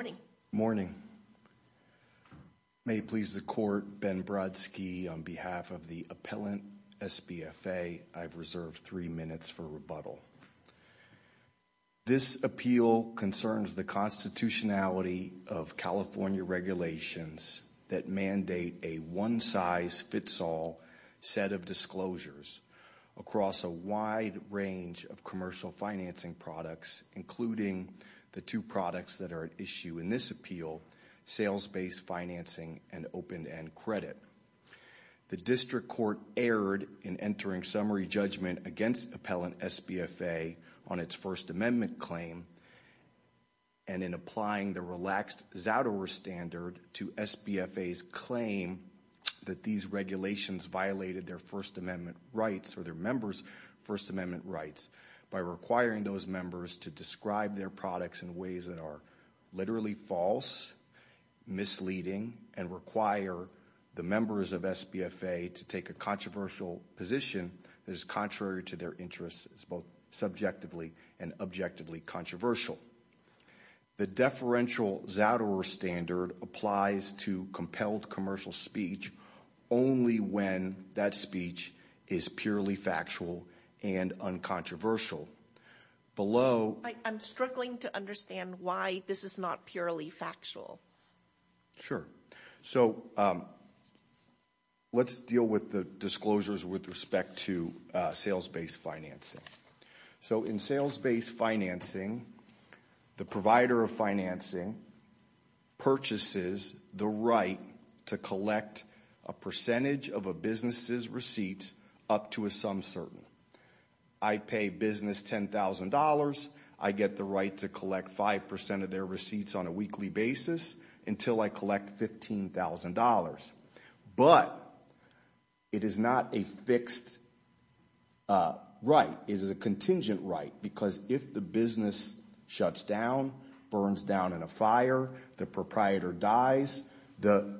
Good morning, may it please the court, Ben Brodsky on behalf of the appellant SBFA, I've reserved three minutes for rebuttal. This appeal concerns the constitutionality of California regulations that mandate a one-size-fits-all set of disclosures across a wide range of commercial financing products, including the two products that are at issue in this appeal, sales-based financing and open-end credit. The district court erred in entering summary judgment against appellant SBFA on its First Amendment claim and in applying the relaxed Zadower standard to SBFA's claim that these regulations violated their First Amendment rights or their members' First Amendment rights by requiring those members to describe their products in ways that are literally false, misleading, and require the members of SBFA to take a controversial position that is contrary to their interests, both subjectively and objectively controversial. The deferential Zadower standard applies to compelled commercial speech only when that speech is purely factual and uncontroversial. Below... I'm struggling to understand why this is not purely factual. Sure, so let's deal with the disclosures with respect to sales-based financing. So in sales-based financing, the provider of financing purchases the right to collect a percentage of a business's receipts up to a sum certain. I pay business $10,000. I get the right to collect 5% of their receipts on a weekly basis until I collect $15,000. But it is not a fixed right. It is a contingent right because if the business shuts down, burns down in a fire, the proprietor dies, the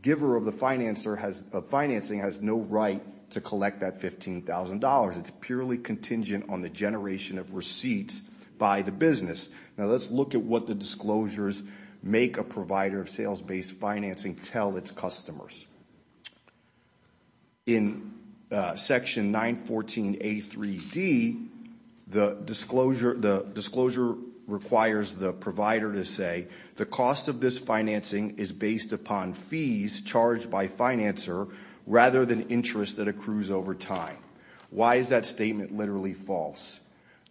giver of the financing has no right to collect that $15,000. It's purely contingent on the generation of receipts by the business. Now let's look at what the disclosures make a provider of sales-based financing tell its customers. In section 914A3D, the disclosure requires the provider to say the cost of this financing is based upon fees charged by financer rather than interest that accrues over time. Why is that statement literally false?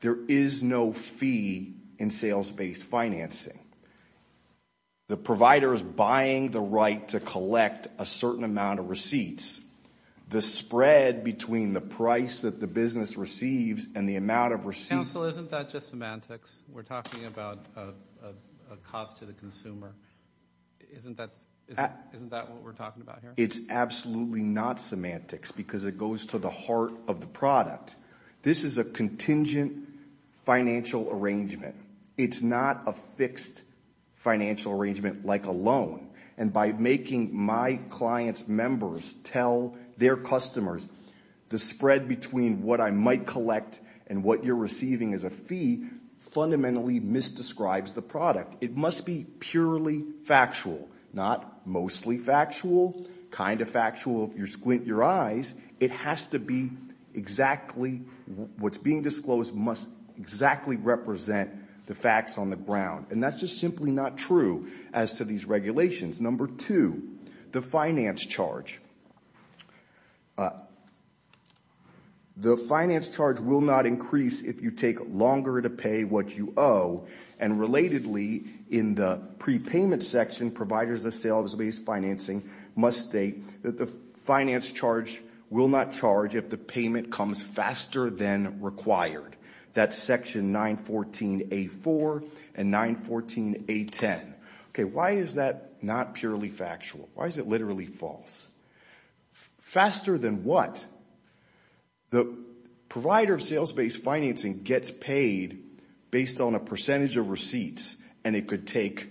There is no fee in sales-based financing. The provider is buying the right to collect a certain amount of receipts. The spread between the price that the business receives and the amount of receipts... Counsel, isn't that just semantics? We're talking about a cost to the consumer. Isn't that what we're talking about here? It's absolutely not semantics because it goes to the heart of the product. This is a contingent financial arrangement. It's not a fixed financial arrangement like a loan. And by making my client's members tell their customers the spread between what I might collect and what you're receiving as a fee fundamentally misdescribes the product. It must be purely factual, not mostly factual, kind of factual if you squint your eyes. It has to be exactly what's being disclosed must exactly represent the facts on the ground. And that's just simply not true as to these regulations. Number two, the finance charge. The finance charge will not increase if you take longer to pay what you owe. And relatedly, in the prepayment section, providers of sales-based financing must state that the finance charge will not charge if the payment comes faster than required. That's section 914A4 and 914A10. Why is that not purely factual? Why is it a percentage of receipts and it could take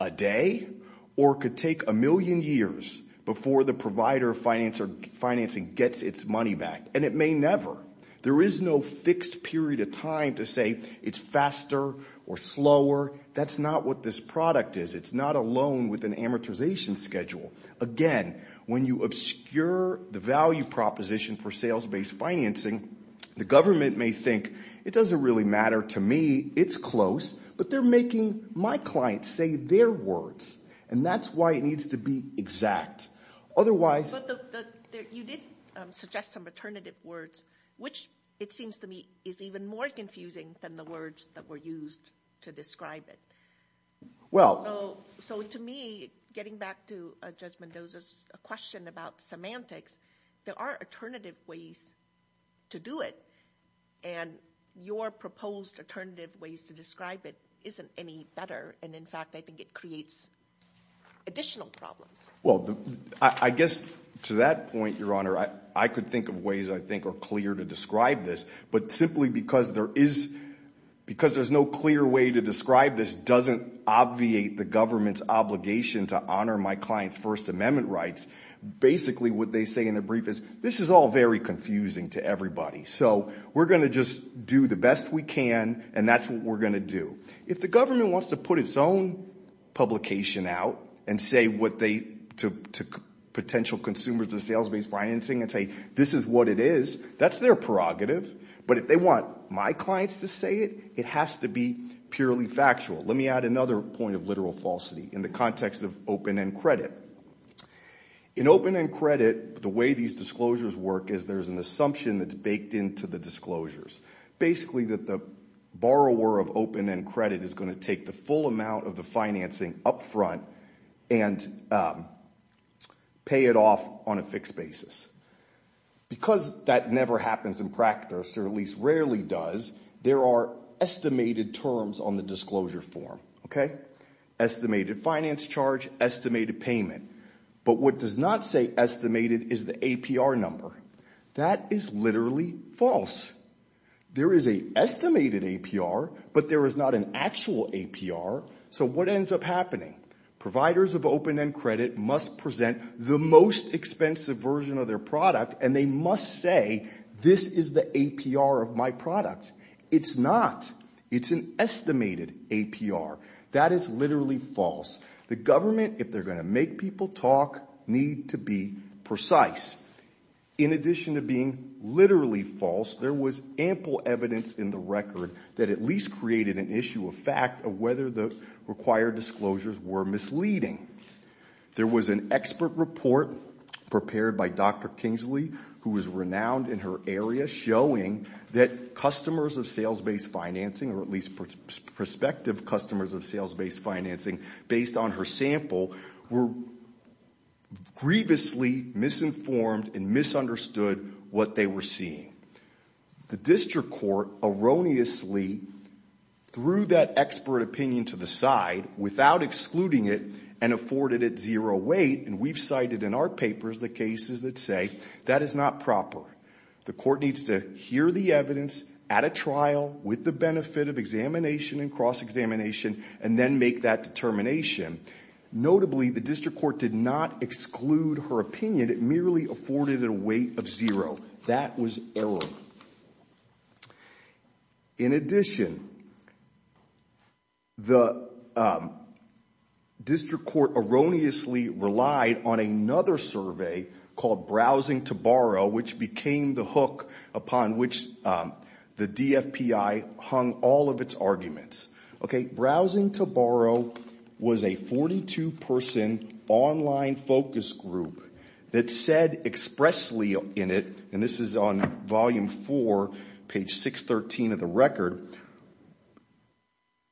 a day or it could take a million years before the provider of financing gets its money back? And it may never. There is no fixed period of time to say it's faster or slower. That's not what this product is. It's not a loan with an amortization schedule. Again, when you obscure the value proposition for sales-based financing, the government may think, it doesn't really matter to me. It's close. But they're making my clients say their words. And that's why it needs to be exact. Otherwise... But you did suggest some alternative words, which it seems to me is even more confusing than the words that were used to describe it. So to me, getting back to Judge Mendoza's question about semantics, there are alternative ways to do it. And your proposed alternative ways to describe it isn't any better. And in fact, I think it creates additional problems. Well, I guess to that point, Your Honor, I could think of ways I think are clear to describe this. But simply because there is no clear way to describe this doesn't obviate the government's obligation to honor my client's First Amendment rights. Basically what they say in the brief is this is all very confusing to everybody. So we're going to just do the best we can and that's what we're going to do. If the government wants to put its own publication out and say what they, to potential consumers of sales-based financing and say this is what it is, that's their prerogative. But if they want my clients to say it, it has to be purely factual falsity in the context of open-end credit. In open-end credit, the way these disclosures work is there's an assumption that's baked into the disclosures. Basically that the borrower of open-end credit is going to take the full amount of the financing up front and pay it off on a fixed basis. Because that never happens in practice, or at least it doesn't happen in practice. But what does not say estimated is the APR number. That is literally false. There is an estimated APR, but there is not an actual APR. So what ends up happening? Providers of open-end credit must present the most expensive version of their product and they must say this is the APR of my product. It's not. It's an estimated APR. That is literally false. The government, if they're going to make people talk, need to be precise. In addition to being literally false, there was ample evidence in the record that at least created an issue of fact of whether the required disclosures were misleading. There was an expert report prepared by Dr. Kingsley, who is renowned in her area, showing that customers of sales-based financing, or at least prospective customers of sales-based financing, based on her sample, were grievously misinformed and misunderstood what they were seeing. The district court erroneously threw that expert opinion to the side without excluding it and afforded it zero weight, and we've cited in our papers the cases that say that is not proper. The court needs to hear the evidence at a trial, with the benefit of examination and cross-examination, and then make that determination. Notably, the district court did not exclude her opinion. It merely afforded it a weight of zero. That was error. In addition, the district court erroneously relied on another survey called Browsing to Borrow, which became the hook upon which the DFPI hung all of its arguments. Okay, Browsing to Borrow was a 42-person online focus group that said expressly in it, and this is on volume four, page 613 of the record,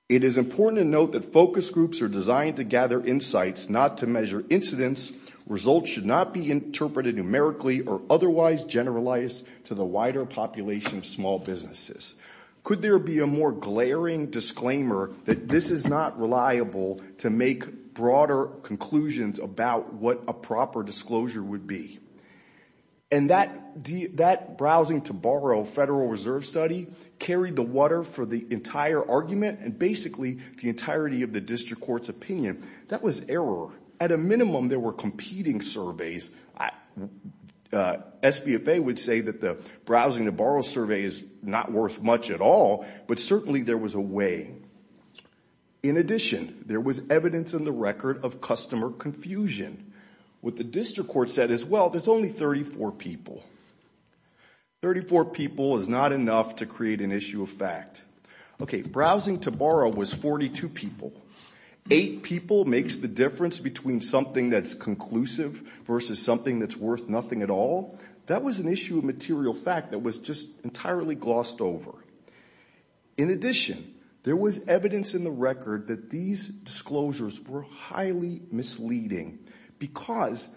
it is important to note that focus groups are designed to gather insights, not to measure incidents. Results should not be interpreted numerically or otherwise generalized to the wider population of small businesses. Could there be a more glaring disclaimer that this is not reliable to make broader conclusions about what a proper disclosure would be? And that Browsing to Borrow federal reserve study carried the water for the entire argument and basically the entirety of the district court's opinion. That was error. At a minimum, there were competing surveys. SBFA would say that the Browsing to Borrow survey is not worth much at all, but certainly there was a way. In addition, there was evidence in the record of customer confusion. What the district court said as well, there's only 34 people. 34 people is not enough to create an issue of fact. Okay, 30 people makes the difference between something that's conclusive versus something that's worth nothing at all. That was an issue of material fact that was just entirely glossed over. In addition, there was evidence in the record that these disclosures were highly misleading because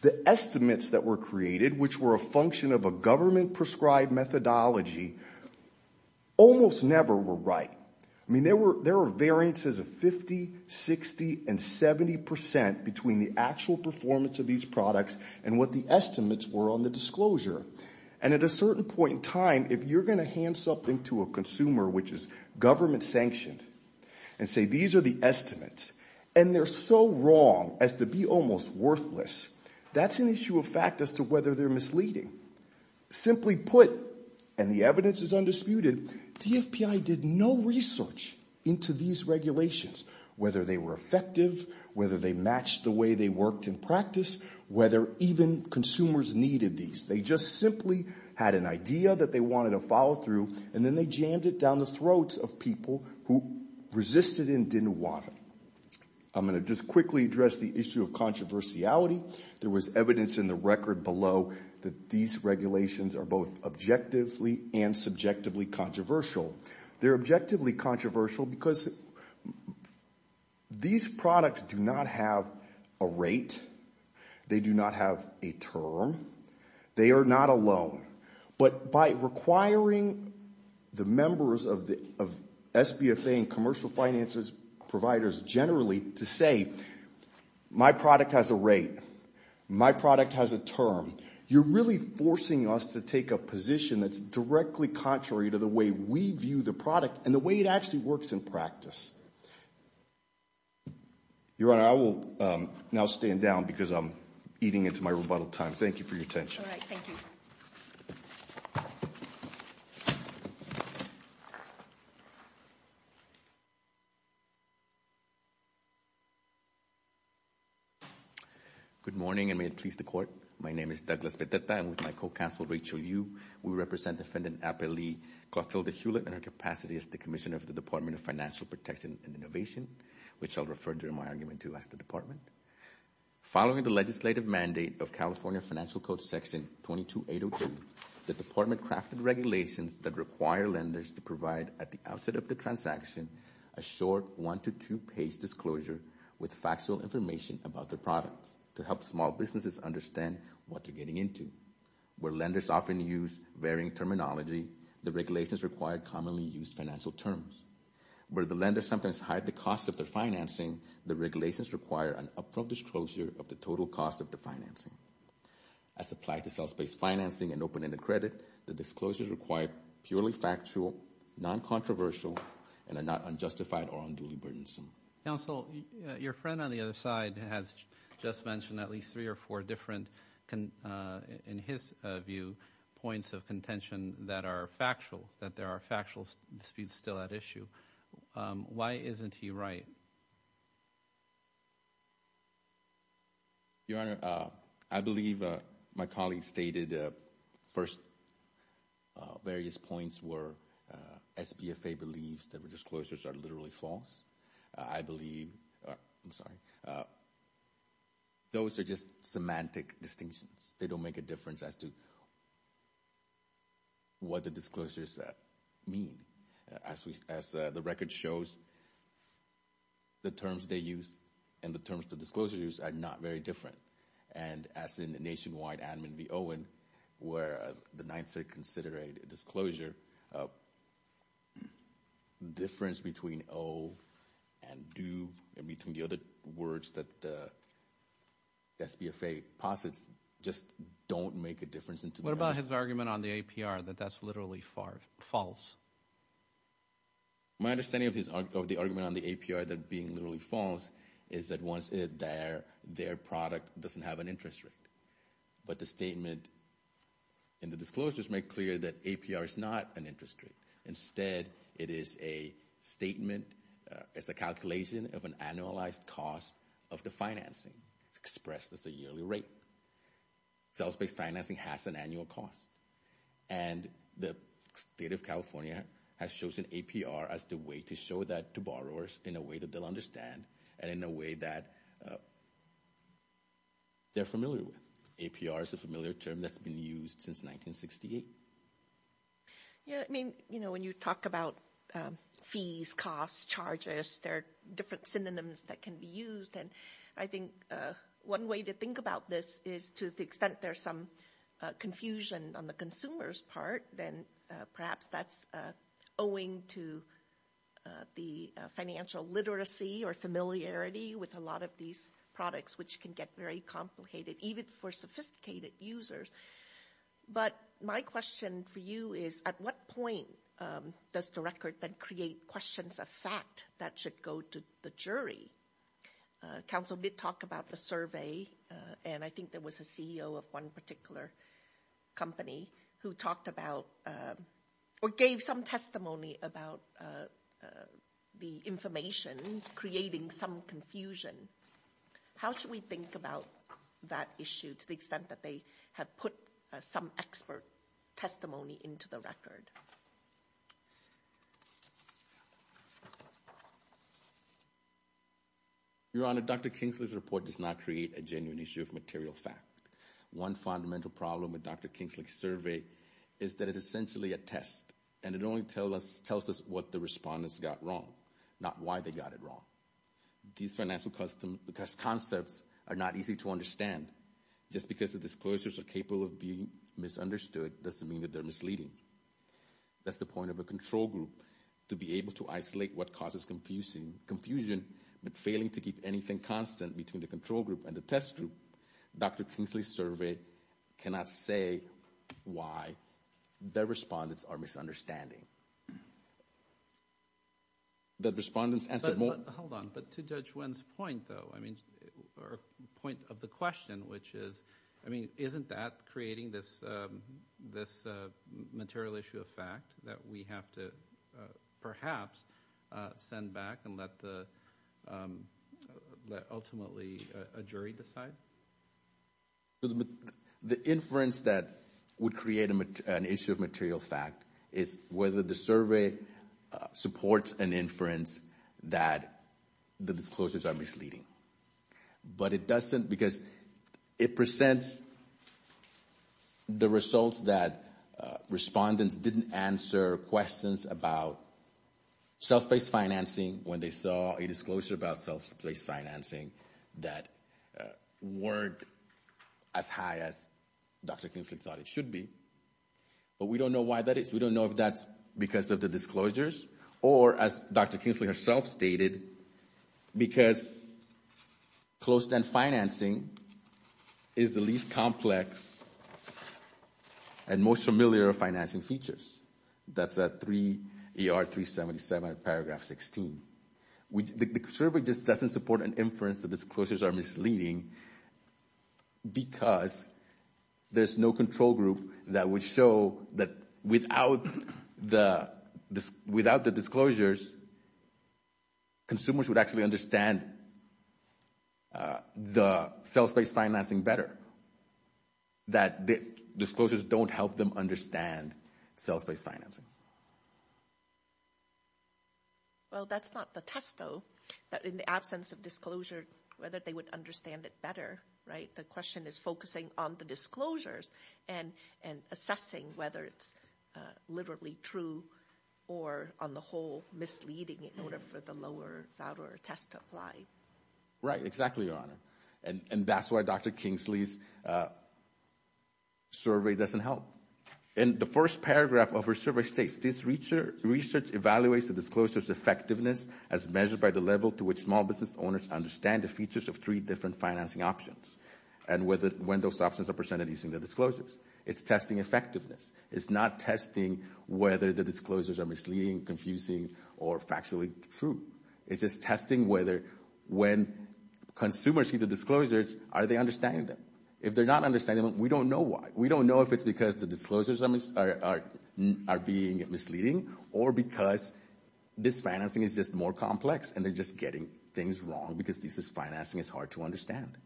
the estimates that were created, which were a function of a government prescribed methodology, almost never were right. I mean, there were variances of 50, 60, and 70% between the actual performance of these products and what the estimates were on the disclosure. And at a certain point in time, if you're going to hand something to a consumer which is government sanctioned and say, these are the estimates, and they're so wrong as to be almost worthless, that's an issue of fact as to whether they're misleading. Simply put, and the evidence is undisputed, DFPI did no research into these regulations, whether they were effective, whether they matched the way they worked in practice, whether even consumers needed these. They just simply had an idea that they wanted to follow through, and then they jammed it down the throats of people who resisted and didn't want it. I'm going to just quickly address the issue of controversiality. There was evidence in the record below that these regulations are both objectively and subjectively controversial. They're objectively controversial because these products do not have a rate. They do not have a term. They are not a loan. But by requiring the members of SBFA and commercial finances providers generally to say, my product has a rate, my product has a term, you're really forcing us to take a position that's directly contrary to the way we view the product and the way it actually works in practice. Your Honor, I will now stand down because I'm eating into my rebuttal time. Thank you for your attention. Good morning, and may it please the Court. My name is Douglas Beteta. I'm with my co-counsel, Rachel Yu. We represent Defendant Ape Lee Clothilda Hewlett in her capacity as the Commissioner of the Department of Financial Protection and Innovation, which I'll refer to in my argument too as the Department. Following the legislative mandate of California Financial Code Section 22802, the Department crafted regulations that require lenders to provide at the outset of the transaction a short one to two-page disclosure with factual information about their products to help small businesses understand what they're getting into. Where lenders often use varying terminology, the regulations require commonly used financial terms. Where the lenders sometimes hide the cost of their financing, the regulations require an upfront disclosure of the total cost of the financing. As applied to sales-based financing and open-ended credit, the disclosures require purely factual, non-controversial, and are not unjustified or unduly burdensome. Counsel, your friend on the other side has just mentioned at least three or four different, in his view, points of contention that are factual, that there are factual disputes still at issue. Why isn't he right? Your Honor, I believe my colleague stated first various points were SBFA believes that the disclosures are literally false. I believe, I'm sorry, those are just semantic distinctions. They don't make a difference as to what the disclosures mean. As the record shows, the terms they use and the terms the nationwide admin be owing, where the ninth circuit consider a disclosure, difference between owe and do, and between the other words that the SBFA posits, just don't make a difference. What about his argument on the APR that that's literally false? My understanding of the argument on the APR that being literally false is that once their product doesn't have an interest rate, but the statement in the disclosures make clear that APR is not an interest rate. Instead, it is a statement, it's a calculation of an annualized cost of the financing expressed as a yearly rate. Sales-based financing has an annual cost, and the state of California has chosen APR as the way to show that to borrowers in a way that they'll understand, and in a way that they're familiar with. APR is a familiar term that's been used since 1968. Yeah, I mean, you know, when you talk about fees, costs, charges, there are different synonyms that can be used, and I think one way to think about this is to the extent there's some confusion on the consumer's part, then perhaps that's owing to the financial literacy or familiarity with a lot of these products, which can get very complicated, even for sophisticated users. But my question for you is, at what point does the record then create questions of fact that should go to the jury? Counsel did talk about the survey, and I think there was a CEO of one particular company who talked about, or gave some testimony about the information creating some confusion. How should we think about that issue to the extent that they have put some expert testimony into the record? Your Honor, Dr. Kingsley's report does not create a genuine issue of material fact. One fundamental problem with Dr. Kingsley's survey is that it's essentially a test, and it only tells us what the respondents got wrong, not why they got it wrong. These financial concepts are not easy to understand. Just because the disclosures are capable of being misunderstood doesn't mean that they're misleading. That's the point of a control group, to be able to isolate what causes confusion, but failing to keep anything constant between the control group and the test group. Dr. Kingsley's survey cannot say why the respondents are misunderstanding. Hold on, but to Judge Nguyen's point, or point of the question, which is, isn't that creating this material issue of fact that we have to perhaps send back and let ultimately a jury decide? The inference that would create an issue of material fact is whether the survey supports an inference that the disclosures are misleading. But it doesn't, because it presents the results that respondents didn't answer questions about self-based financing when they saw a disclosure about self-based financing that weren't as high as Dr. Kingsley thought it should be. But we don't know why that is. We don't know if that's because of the disclosures, or as Dr. Kingsley herself stated, because closed-end financing is the least complex and most familiar financing features. That's at 3ER377, paragraph 16. The survey just doesn't support an inference that disclosures are misleading, because there's no control group that would show that without the disclosures, consumers would actually understand the self-based financing better, that disclosures don't help them understand self-based financing. Well, that's not the test, though, that in the absence of disclosure, whether they would understand it better, right? The question is focusing on the disclosures and assessing whether it's literally true or, on the whole, misleading in order for the lower-thrower test to apply. Right, exactly, Your Honor. And that's why Dr. Kingsley's survey doesn't help. In the first paragraph of her survey states, this research evaluates the disclosures' effectiveness as measured by the level to which small business owners understand the features of three different financing options, and when those options are presented using the disclosures. It's testing effectiveness. It's not testing whether the disclosures are misleading, confusing, or factually true. It's just testing whether when consumers see the disclosures, are they understanding them? If they're not understanding them, we don't know why. We don't know if it's because the disclosures are being misleading, or because this financing is just more complex, and they're just getting things wrong, because this financing is hard to understand.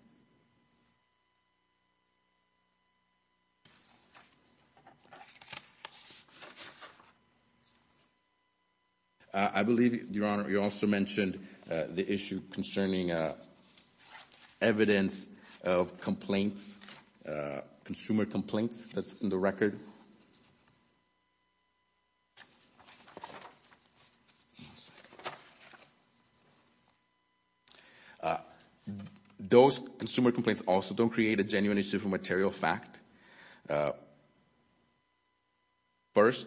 I believe, Your Honor, you also mentioned the issue concerning evidence of complaints, consumer complaints, that's in the record. Those consumer complaints also don't create a genuine issue from material fact. First,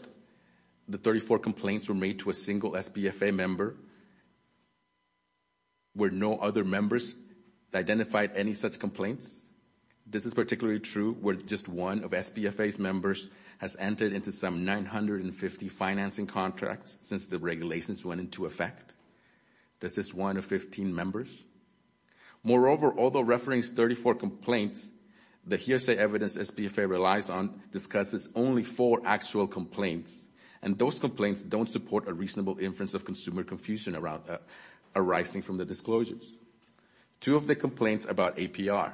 the 34 complaints were made to a single SBFA member where no other members identified any such complaints. This is particularly true where just one of SBFA's members has entered into some 950 financing contracts since the regulations went into effect. That's just one of 15 members. Moreover, although referencing 34 complaints, the hearsay evidence SBFA relies on discusses only four actual complaints, and those complaints don't support a reasonable inference of consumer confusion arising from the disclosures. Two of the complaints about APR,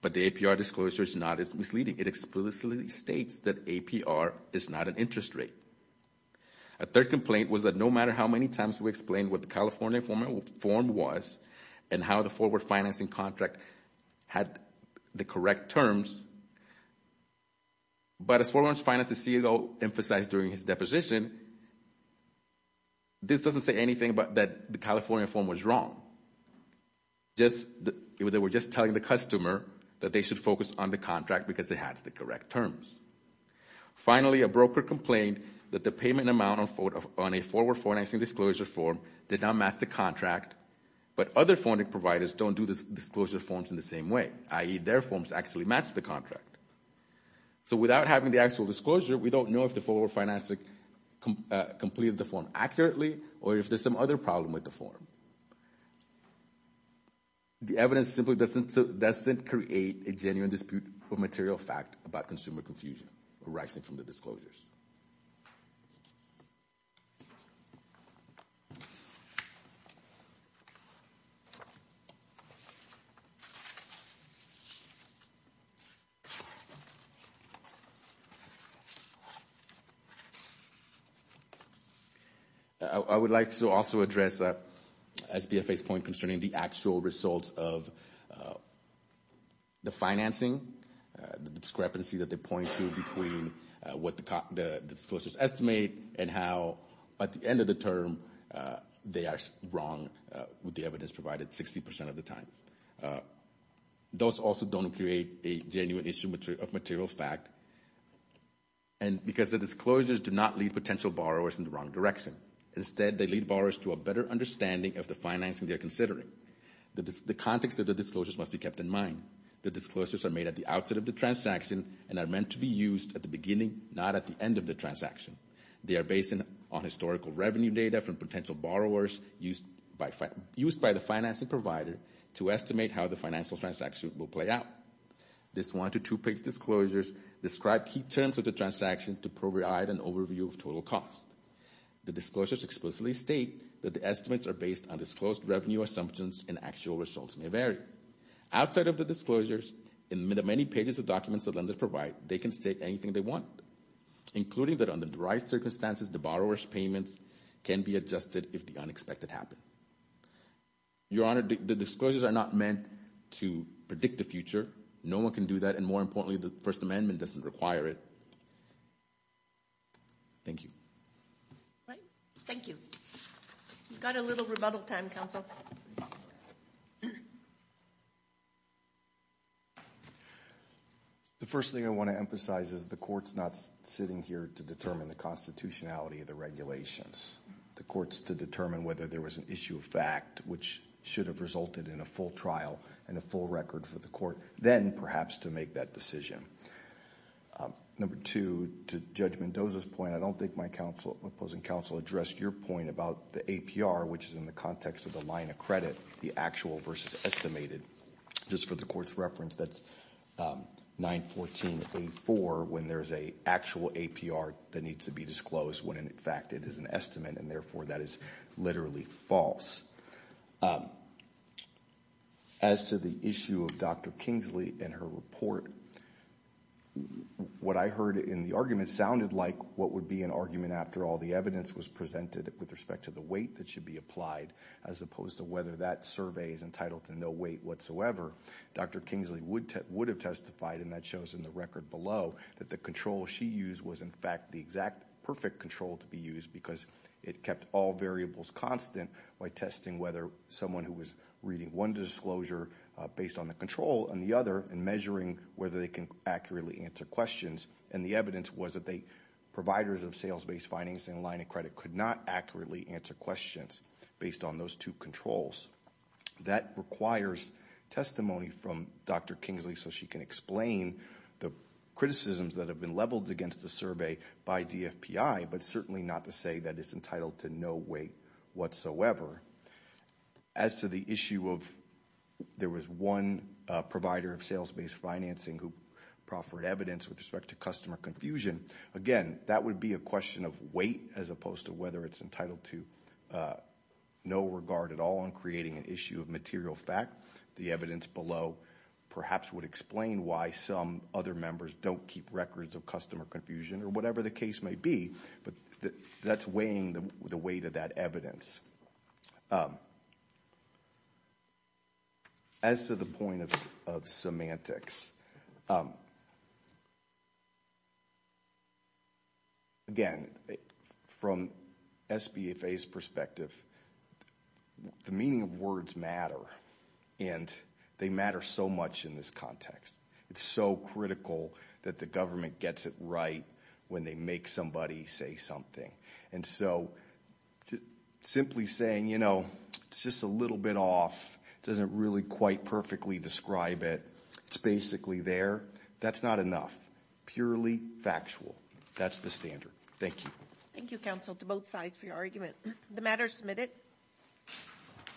but the APR disclosure is not misleading. It explicitly states that APR is not an interest rate. A third complaint was that no matter how many times we explained what the California form was, and how the forward financing contract had the correct terms, but as forward financing CEO emphasized during his deposition, this doesn't say anything about that the California form was wrong. They were just telling the customer that they should focus on the contract because it has the correct terms. Finally, a broker complained that the payment amount on a forward financing disclosure form did not match the contract, but other funding providers don't do the disclosure forms in the same way, i.e., their forms actually match the contract. So without having the actual disclosure, we don't know if the forward financing company completed the form accurately or if there's some other problem with the form. The evidence simply doesn't create a genuine dispute of material fact about consumer confusion arising from the disclosures. I would like to also address SBFA's point concerning the actual results of the financing, the discrepancy that they point to between what the disclosures estimate and how at the end of the term they are wrong with the evidence provided 60% of the time. Those also don't create a genuine issue of material fact because the disclosures do not lead potential borrowers in the wrong direction. Instead, they lead borrowers to a better understanding of the financing they are considering. The context of the disclosures must be kept in mind. The disclosures are made at the outset of the transaction and are meant to be used at the beginning, not at the end of the transaction. They are based on historical revenue data from potential borrowers used by the financing provider to estimate how the financial transaction will play out. This one- to two-page disclosures describe key terms of the transaction to provide an overview of total cost. The disclosures explicitly state that the estimates are based on disclosed revenue assumptions and actual results may vary. Outside of the disclosures, in the many pages of documents that lenders provide, they can state anything they want, including that under the right circumstances, the borrower's payments can be adjusted if the unexpected happen. Your Honor, the disclosures are not meant to predict the future. No one can do that, and more importantly, the First Amendment doesn't require it. Thank you. Thank you. We've got a little rebuttal time, Counsel. The first thing I want to emphasize is the Court's not sitting here to determine the constitutionality of the regulations. The Court's to determine whether there was an issue of fact, which should have resulted in a full trial and a full record for the Court, then perhaps to make that decision. Number two, to Judge Mendoza's point, I don't think my opposing counsel addressed your point about the APR, which is in the context of the line of credit, the actual versus estimated. Just for the Court's reference, that's 914A4, when there's an actual APR that needs to be disclosed, when in fact it is an estimate, and therefore that is literally false. As to the issue of Dr. Kingsley and her report, what I heard in the argument sounded like what would be an argument after all the evidence was presented with respect to the weight that should be applied, as opposed to whether that survey is entitled to no weight whatsoever. Dr. Kingsley would have testified, and that shows in the record below, that the control she used was in fact the exact perfect control to be used because it kept all variables constant by testing whether someone who was reading one disclosure based on the control and the other, and measuring whether they can accurately answer questions. And the evidence was that the providers of sales-based financing line of credit could not accurately answer questions based on those two controls. That requires testimony from Dr. Kingsley so that she can explain the criticisms that have been leveled against the survey by DFPI, but certainly not to say that it's entitled to no weight whatsoever. As to the issue of, there was one provider of sales-based financing who proffered evidence with respect to customer confusion. Again, that would be a question of weight as opposed to whether it's entitled to no regard at all in creating an issue of material fact. The evidence below perhaps would explain why some other members don't keep records of customer confusion, or whatever the case may be. But that's weighing the weight of that evidence. As to the point of semantics, again, from SBFA's perspective, the meaning of words matter, and they matter so much in this context. It's so critical that the government gets it right when they make somebody say something. And so, simply saying, it's just a little bit off, doesn't really quite perfectly describe it, it's basically there, that's not enough. Purely factual, that's the standard. Thank you. Thank you, counsel, to both sides for your argument. The matter is submitted.